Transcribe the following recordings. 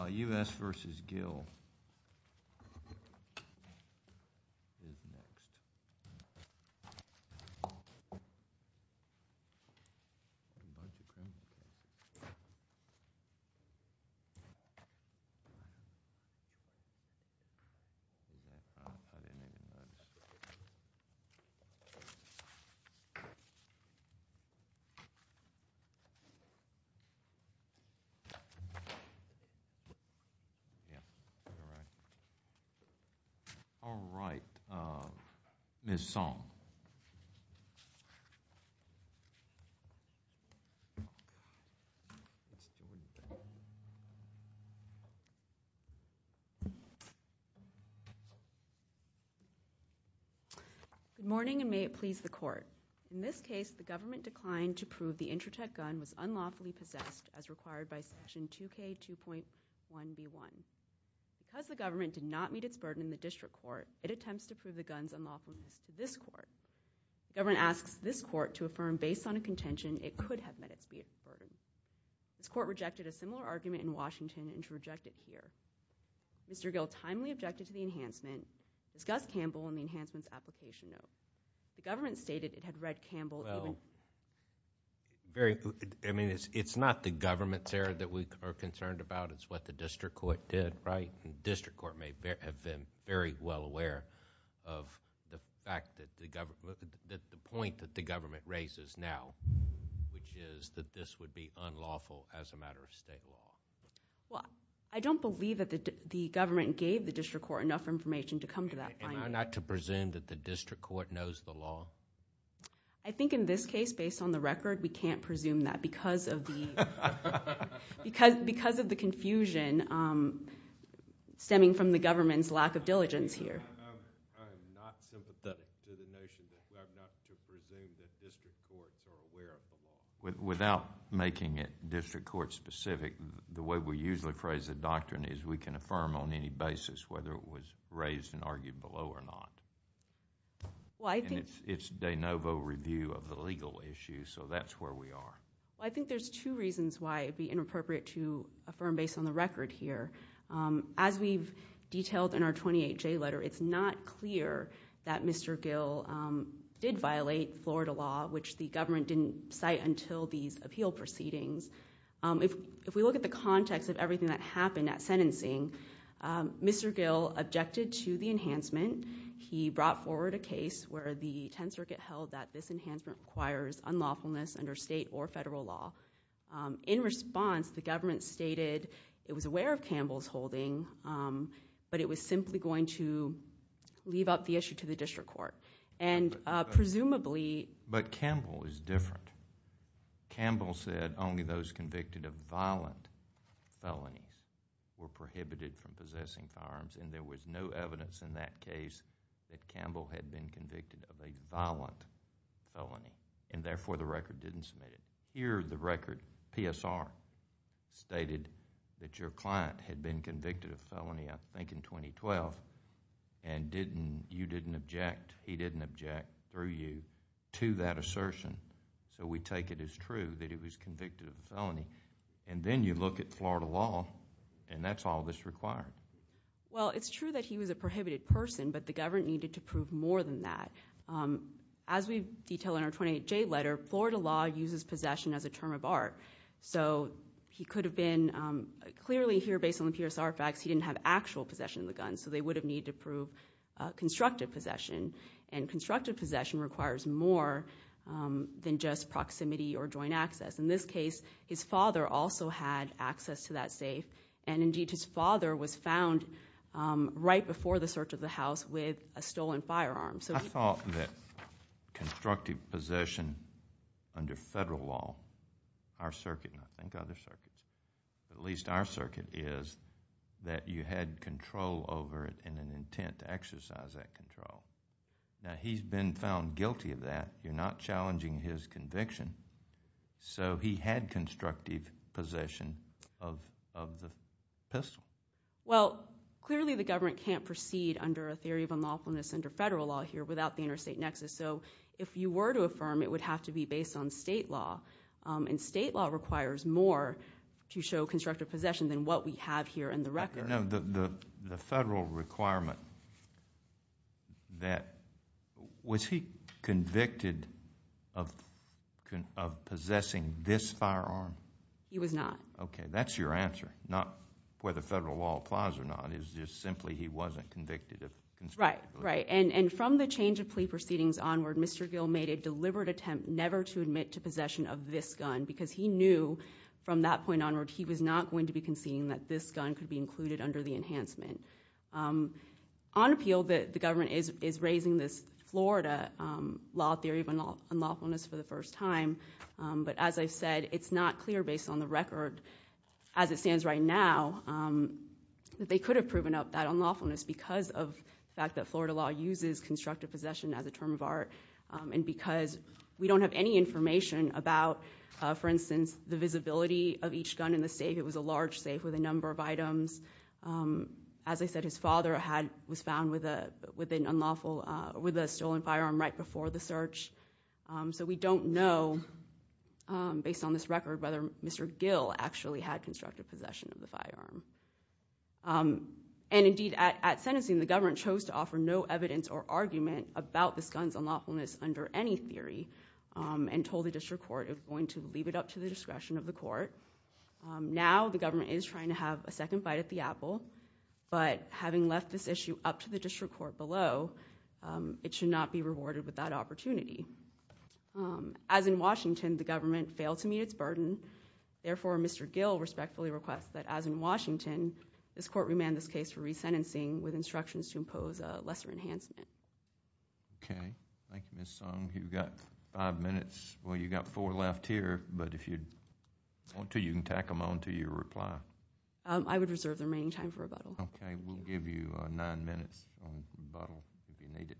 U.S. v. Gill Good morning and may it please the court. In this case, the government declined to prove that the Intratec gun was unlawfully possessed as required by section 2K2.1b1. Because the government did not meet its burden in the district court, it attempts to prove the gun's unlawfulness to this court. The government asks this court to affirm based on a contention it could have met its burden. This court rejected a similar argument in Washington and should reject it here. Mr. Gill timely objected to the enhancement, discussed Campbell and the of the fact that, that the point that the government raises now, which is that this would be unlawful as a matter of state law. Well, I don't believe that the government gave the district court enough information to come to that finding. Am I not to presume that the district court knows the law? I think in this case, based on the record, we can't presume that because of the confusion stemming from the government's lack of diligence here. I am not sympathetic to the notion that I'm not to presume that district courts are aware of the law. Without making it district court specific, the way we usually phrase the doctrine is we can affirm on any basis whether it was raised and argued below or not. It's de novo review of the legal issue, so that's where we are. I think there's two reasons why it would be inappropriate to affirm based on the record here. As we've detailed in our 28J letter, it's not clear that Mr. Gill did violate Florida law, which the government didn't cite until these appeal proceedings. If we look at the context of everything that happened at sentencing, Mr. Gill objected to the enhancement. He brought forward a case where the Tenth Circuit held that this enhancement requires unlawfulness under state or federal law. In response, the government stated it was aware of Campbell's holding, but it was simply going to leave up the issue to the district court. Presumably... But Campbell is different. Campbell said only those convicted of violent felonies were prohibited from possessing firearms and there was no evidence in that case that Campbell had been convicted of a violent felony and therefore the record didn't submit it. Here, the record, PSR, stated that your client had been convicted of felony, I think in 2012, and you didn't object. He didn't object through you to that assertion, so we take it as true that he was convicted of a felony. Then you look at Florida law and that's all that's required. Well, it's true that he was a prohibited person, but the government needed to prove more than that. As we detail in our 28J letter, Florida law uses possession as a term of art. So he could have been... Clearly here, based on the PSR facts, he didn't have actual possession of the gun, so they would have needed to prove constructive possession. Constructive possession requires more than just proximity or joint access. In this case, his father also had access to that safe. Indeed, his father was found right before the search of the house with a stolen firearm. I thought that constructive possession under federal law, our circuit and I think other circuits, at least our circuit, is that you had control over it and an intent to exercise that control. Now, he's been found guilty of that. You're not challenging his conviction. So he had constructive possession of the pistol. Well, clearly the government can't proceed under a theory of unlawfulness under federal law here without the interstate nexus. So if you were to affirm, it would have to be based on state law. State law requires more to show constructive possession than what we have here in the record. The federal requirement that... Was he convicted of possessing this firearm? He was not. Okay, that's your answer, not whether federal law applies or not. It's just simply he wasn't convicted of... Right, right. And from the change of plea proceedings onward, Mr. Gill made a deliberate attempt never to admit to possession of this gun because he knew from that point onward, he was not going to be conceding that this gun could be included under the enhancement. On appeal, the government is raising this Florida law theory of unlawfulness for the first time. But as I've said, it's not clear, based on the record as it stands right now, that they could have proven that unlawfulness because of the fact that Florida law uses constructive possession as a term of art and because we don't have any information about, for instance, the visibility of each gun in the safe. It was a large safe with a number of items. As I said, his father was found with a stolen firearm right before the search. So we don't know, based on this record, whether Mr. Gill actually had constructive possession of the firearm. And indeed, at sentencing, the government chose to offer no evidence or argument about this gun's unlawfulness under any theory and told the district court it was going to leave it up to the discretion of the court. Now the government is trying to have a second fight at the apple, but having left this issue up to the district court below, it should not be rewarded with that opportunity. As in Washington, the government failed to meet its burden. Therefore, Mr. Gill respectfully requests that, as in Washington, this court remand this case for resentencing with instructions to impose a lesser enhancement. Okay. Thank you, Ms. Song. You've got five minutes. Well, you've got four left here, but if you want to, you can tack them on to your reply. I would reserve the remaining time for rebuttal. Okay. We'll give you nine minutes on rebuttal if you need it.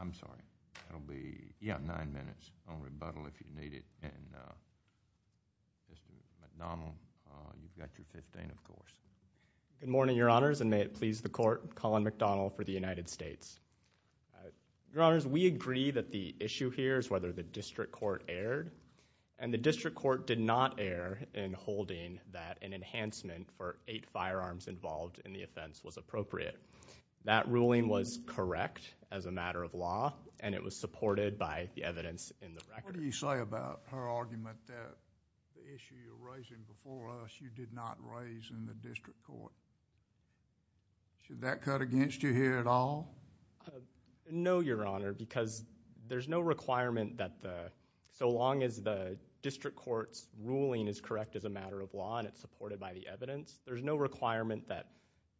I'm sorry. It'll be nine minutes on rebuttal if you need it. And Mr. McDonnell, you've got your 15, of course. Good morning, Your Honors, and may it please the court, Colin McDonnell for the United States. Your Honors, we agree that the issue here is whether the district court erred, and the district court did not err in holding that an enhancement for eight firearms involved in the offense was appropriate. That ruling was correct as a matter of law, and it was supported by the evidence in the record. What do you say about her argument that the issue you're raising before us you did not raise in the district court? Should that cut against you here at all? No, Your Honor, because there's no requirement that the... So long as the district court's ruling is correct as a matter of law and it's supported by the evidence, there's no requirement that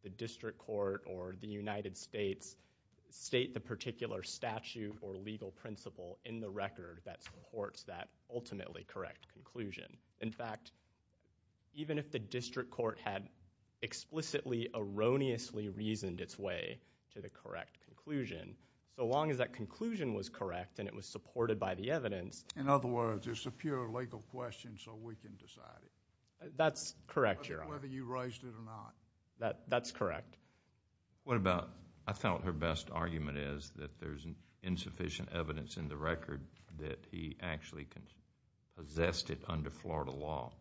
the district court or the United States state the particular statute or legal principle in the record that supports that ultimately correct conclusion. In fact, even if the district court had explicitly erroneously reasoned its way to the correct conclusion, so long as that conclusion was correct and it was supported by the evidence... In other words, it's a pure legal question, so we can decide it. That's correct, Your Honor. We can decide whether you raised it or not. That's correct. What about... I felt her best argument is that there's insufficient evidence in the record that he actually possessed it under Florida law.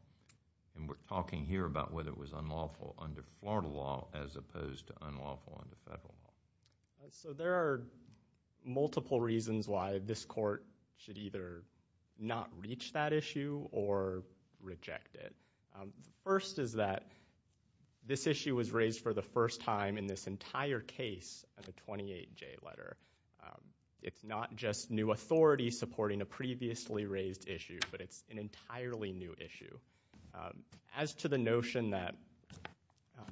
We're talking here about whether it was unlawful under Florida law as opposed to unlawful under federal law. There are multiple reasons why this court should either not reach that issue or reject it. The first is that this issue was raised for the first time in this entire case of the 28J letter. It's not just new authority supporting a previously raised issue, but it's an entirely new issue. As to the notion that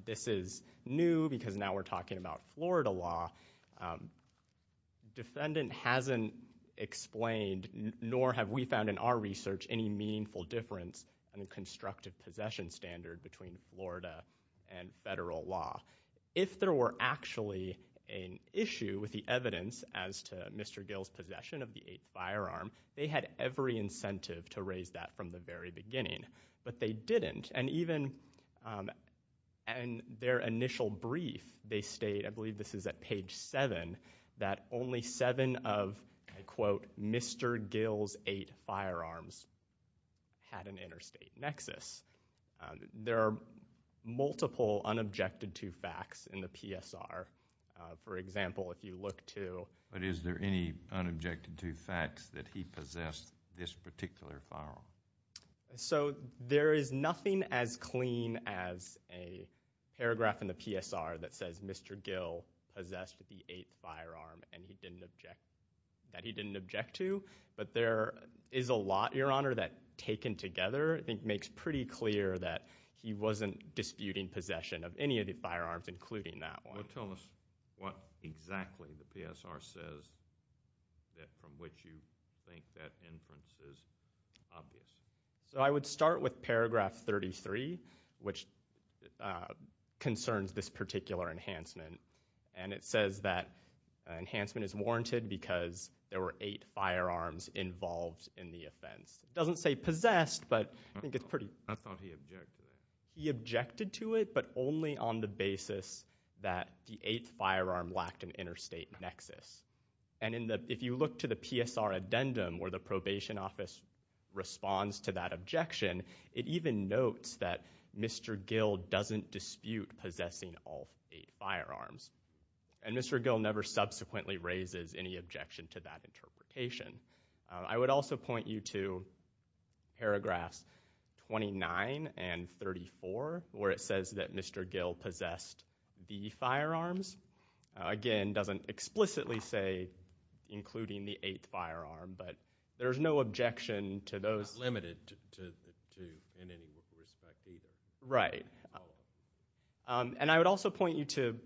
this is new because now we're talking about Florida law, defendant hasn't explained, nor have we found in our research, any meaningful difference in the constructive possession standard between Florida and federal law. If there were actually an issue with the evidence as to Mr. Gill's possession of the eighth firearm, they had every incentive to raise that from the very beginning, but they didn't. In their initial brief, they state, I believe this is at page seven, that only seven of, I quote, Mr. Gill's eight firearms had an interstate nexus. There are multiple unobjected to facts in the PSR. For example, if you look to... But is there any unobjected to facts that he possessed this particular firearm? There is nothing as clean as a paragraph in the PSR that says Mr. Gill possessed the eighth firearm that he didn't object to, but there is a lot, Your Honor, that taken together makes pretty clear that he wasn't disputing possession of any of the firearms, including that one. Tell us what exactly the PSR says from which you think that inference is obvious. I would start with paragraph 33, which concerns this particular enhancement, and it says that enhancement is warranted because there were eight firearms involved in the offense. It doesn't say possessed, but I think it's pretty... I thought he objected to it. He objected to it, but only on the basis that the eighth firearm lacked an interstate nexus. And if you look to the PSR addendum where the probation office responds to that objection, it even notes that Mr. Gill doesn't dispute possessing all eight firearms, and Mr. Gill never subsequently raises any objection to that interpretation. I would also point you to paragraphs 29 and 34, where it says that Mr. Gill possessed the firearms. Again, it doesn't explicitly say including the eighth firearm, but there's no objection to those... Not limited to in any respect, either. Right. And I would also point you to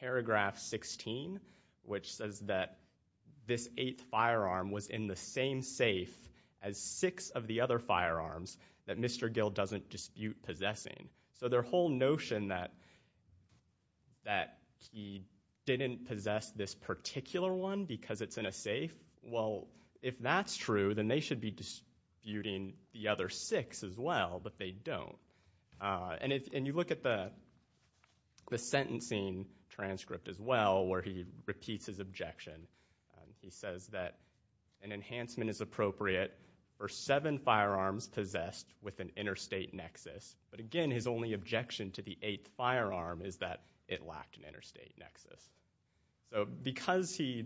paragraph 16, which says that this eighth firearm was in the same safe as six of the other firearms that Mr. Gill doesn't dispute possessing. So their whole notion that he didn't possess this particular one because it's in a safe, well, if that's true, then they should be disputing the other six as well, but they don't. And you look at the sentencing transcript as well, where he repeats his objection. He says that an enhancement is appropriate for seven firearms possessed with an interstate nexus. But again, his only objection to the eighth firearm is that it lacked an interstate nexus. So because he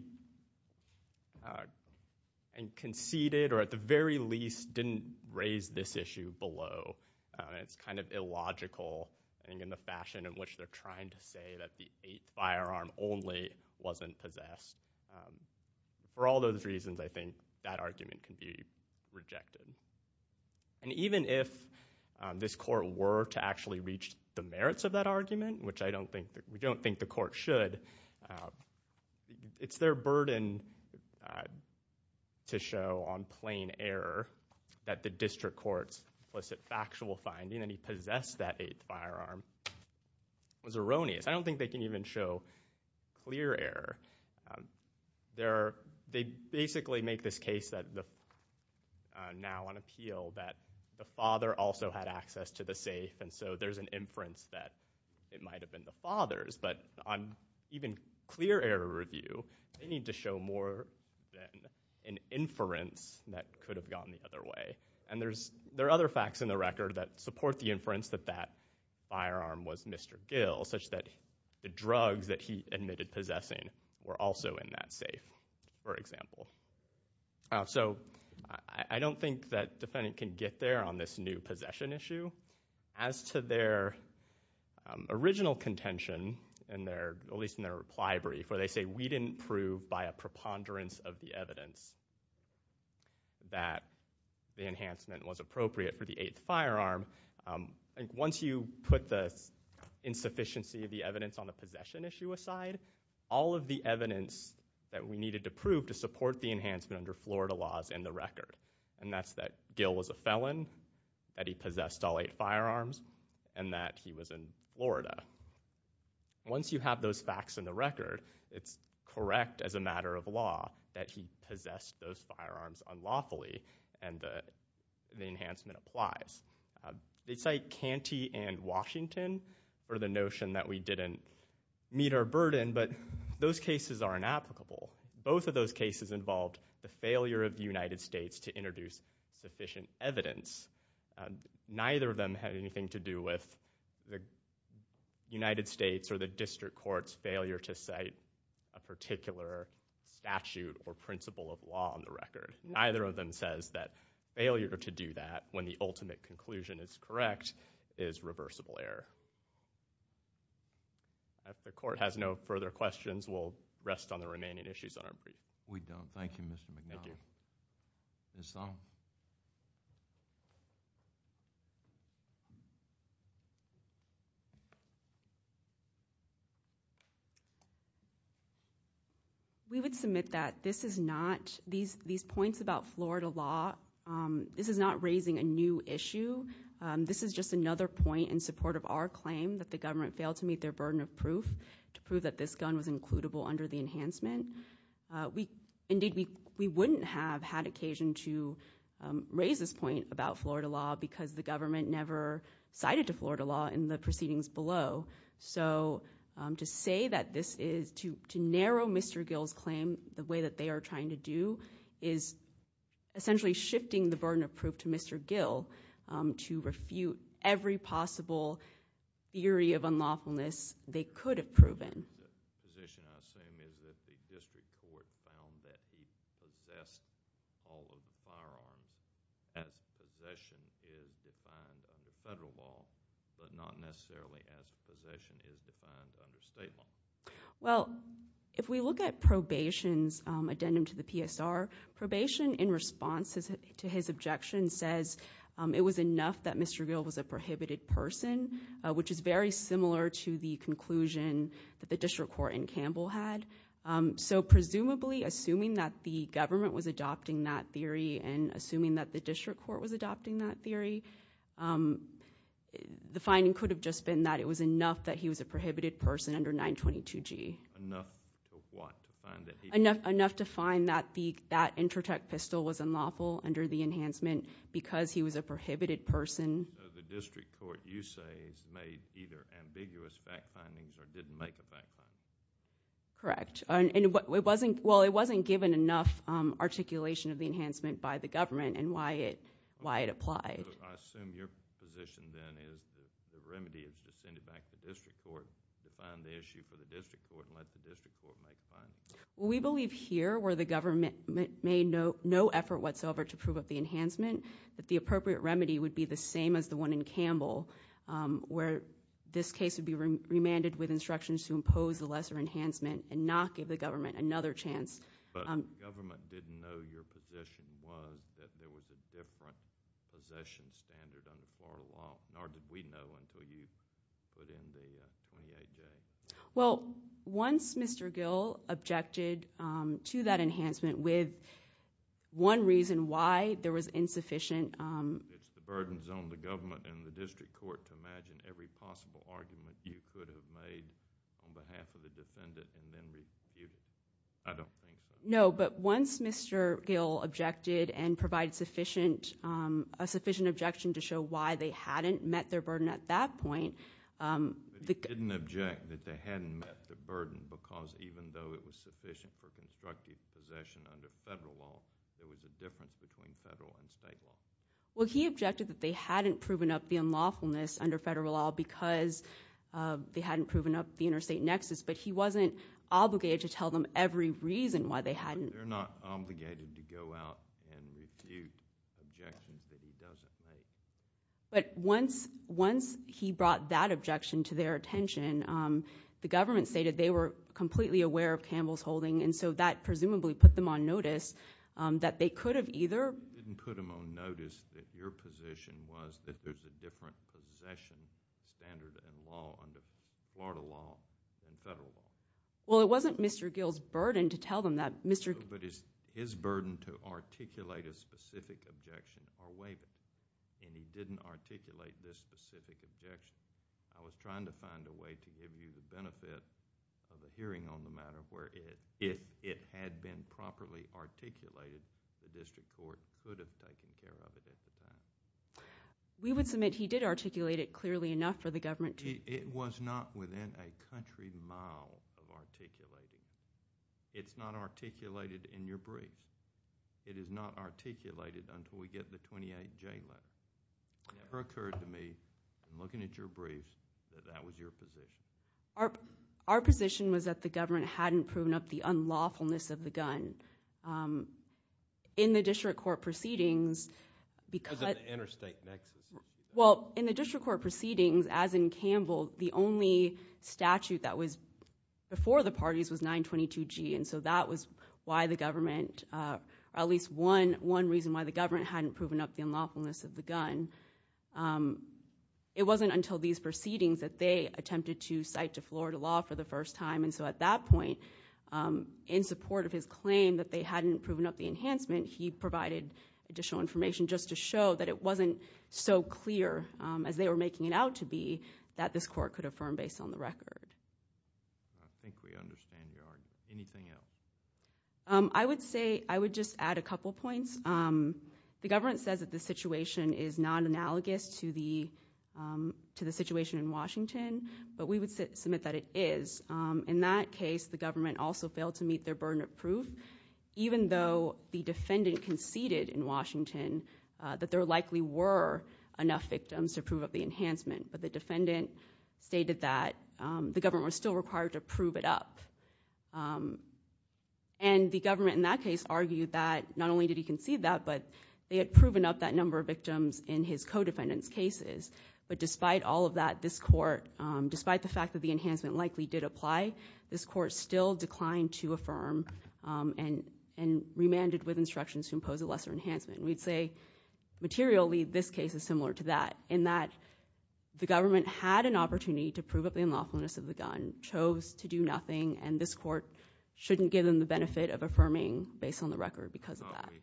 conceded, or at the very least didn't raise this issue below, it's kind of illogical... I think in the fashion in which they're trying to say that the eighth firearm only wasn't possessed. For all those reasons, I think that argument can be rejected. And even if this court were to actually reach the merits of that argument, which I don't think... It's their burden to show on plain error that the district court's implicit factual finding, that he possessed that eighth firearm, was erroneous. I don't think they can even show clear error. They basically make this case that now on appeal, that the father also had access to the safe. And so, there's an inference that it might have been the father's. But, on even clear error review, they need to show more than an inference that could have gone the other way. And, there are other facts in the record that support the inference that that firearm was Mr. Gill. Such that the drugs that he admitted possessing were also in that safe, for example. So, I don't think that defendant can get there on this new possession issue. As to their original contention, at least in their reply brief, where they say, we didn't prove by a preponderance of the evidence that the enhancement was appropriate for the eighth firearm. Once you put the insufficiency of the evidence on the possession issue aside, all of the evidence that we needed to prove to support the enhancement under Florida laws in the record. And, that's that Gill was a felon, that he possessed all eight firearms, and that he was in Florida. Once you have those facts in the record, it's correct as a matter of law that he possessed those firearms unlawfully. And, the enhancement applies. They cite Canty and Washington for the notion that we didn't meet our burden. But, those cases are inapplicable. Both of those cases involved the failure of the United States to introduce sufficient evidence. Neither of them had anything to do with the United States or the District Court's failure to cite a particular statute or principle of law on the record. Neither of them says that failure to do that, when the ultimate conclusion is correct, is reversible error. If the court has no further questions, we'll rest on the remaining issues on our brief. We don't. Thank you, Mr. McNally. Thank you. Ms. Song. We would submit that this is not, these points about Florida law, this is not raising a new issue. This is just another point in support of our claim that the government failed to meet their burden of proof to prove that this gun was includable under the enhancement. Indeed, we wouldn't have had occasion to raise this point about Florida law because the government never cited to Florida law in the proceedings below. So, to say that this is, to narrow Mr. Gill's claim the way that they are trying to do is essentially shifting the burden of proof to Mr. Gill. To refute every possible theory of unlawfulness they could have proven. The position, I assume, is that the District Court found that he possessed all of the firearms as possession is defined under federal law, but not necessarily as possession is defined under state law. Well, if we look at probation's addendum to the PSR, probation in response to his objection says it was enough that Mr. Gill was a prohibited person. Which is very similar to the conclusion that the District Court in Campbell had. So, presumably, assuming that the government was adopting that theory and assuming that the District Court was adopting that theory. The finding could have just been that it was enough that he was a prohibited person under 922G. Enough to what? Enough to find that the, that Intratec pistol was unlawful under the enhancement because he was a prohibited person. So, the District Court, you say, has made either ambiguous fact findings or didn't make a fact finding. Correct. Well, it wasn't given enough articulation of the enhancement by the government and why it applied. So, I assume your position then is the remedy is to send it back to the District Court to find the issue for the District Court and let the District Court make findings. Well, we believe here where the government made no effort whatsoever to prove of the enhancement, that the appropriate remedy would be the same as the one in Campbell. Where this case would be remanded with instructions to impose the lesser enhancement and not give the government another chance. But the government didn't know your position was that there was a different possession standard under Florida law. Nor did we know until you put in the 28J. Well, once Mr. Gill objected to that enhancement with one reason why there was insufficient... It's the burdens on the government and the District Court to imagine every possible argument you could have made on behalf of the defendant and then rebuke it. I don't think so. No, but once Mr. Gill objected and provided a sufficient objection to show why they hadn't met their burden at that point... But he didn't object that they hadn't met their burden because even though it was sufficient for constructive possession under federal law, there was a difference between federal and state law. Well, he objected that they hadn't proven up the unlawfulness under federal law because they hadn't proven up the interstate nexus. But he wasn't obligated to tell them every reason why they hadn't... They're not obligated to go out and refute objections that he doesn't make. But once he brought that objection to their attention, the government stated they were completely aware of Campbell's holding. And so that presumably put them on notice that they could have either... They were on notice that your position was that there's a different possession standard and law under Florida law than federal law. Well, it wasn't Mr. Gill's burden to tell them that Mr.... No, but his burden to articulate a specific objection or waive it. And he didn't articulate this specific objection. I was trying to find a way to give you the benefit of a hearing on the matter where if it had been properly articulated, the district court could have taken care of it at the time. We would submit he did articulate it clearly enough for the government to... It was not within a country mile of articulating. It's not articulated in your brief. It is not articulated until we get the 28J letter. It never occurred to me in looking at your briefs that that was your position. Our position was that the government hadn't proven up the unlawfulness of the gun. In the district court proceedings... Because of the interstate nexus. Well, in the district court proceedings, as in Campbell, the only statute that was before the parties was 922G. And so that was why the government... at least one reason why the government hadn't proven up the unlawfulness of the gun. It wasn't until these proceedings that they attempted to cite to Florida law for the first time. And so at that point, in support of his claim that they hadn't proven up the enhancement, he provided additional information just to show that it wasn't so clear as they were making it out to be that this court could affirm based on the record. I think we understand your argument. Anything else? I would say... I would just add a couple points. The government says that the situation is not analogous to the situation in Washington, but we would submit that it is. In that case, the government also failed to meet their burden of proof, even though the defendant conceded in Washington that there likely were enough victims to prove up the enhancement. But the defendant stated that the government was still required to prove it up. And the government in that case argued that not only did he concede that, but they had proven up that number of victims in his co-defendant's cases. But despite all of that, this court... despite the fact that the enhancement likely did apply, this court still declined to affirm and remanded with instructions to impose a lesser enhancement. We'd say materially, this case is similar to that, in that the government had an opportunity to prove up the unlawfulness of the gun, chose to do nothing, and this court shouldn't give them the benefit of affirming based on the record because of that. We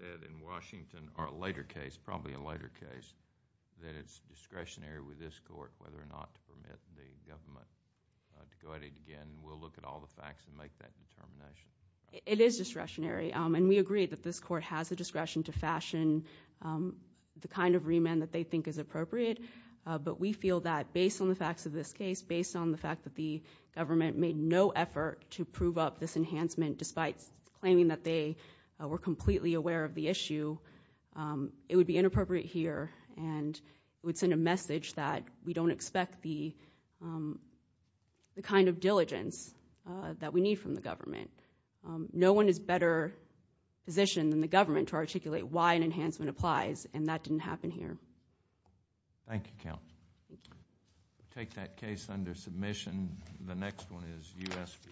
said in Washington, or a later case, probably a later case, that it's discretionary with this court whether or not to permit the government to go at it again. We'll look at all the facts and make that determination. It is discretionary, and we agree that this court has the discretion to fashion the kind of remand that they think is appropriate. But we feel that based on the facts of this case, based on the fact that the government made no effort to prove up this enhancement despite claiming that they were completely aware of the issue, it would be inappropriate here, and it would send a message that we don't expect the kind of diligence that we need from the government. No one is better positioned than the government to articulate why an enhancement applies, and that didn't happen here. Thank you, Count. We'll take that case under submission. And the next one is U.S. v. Little.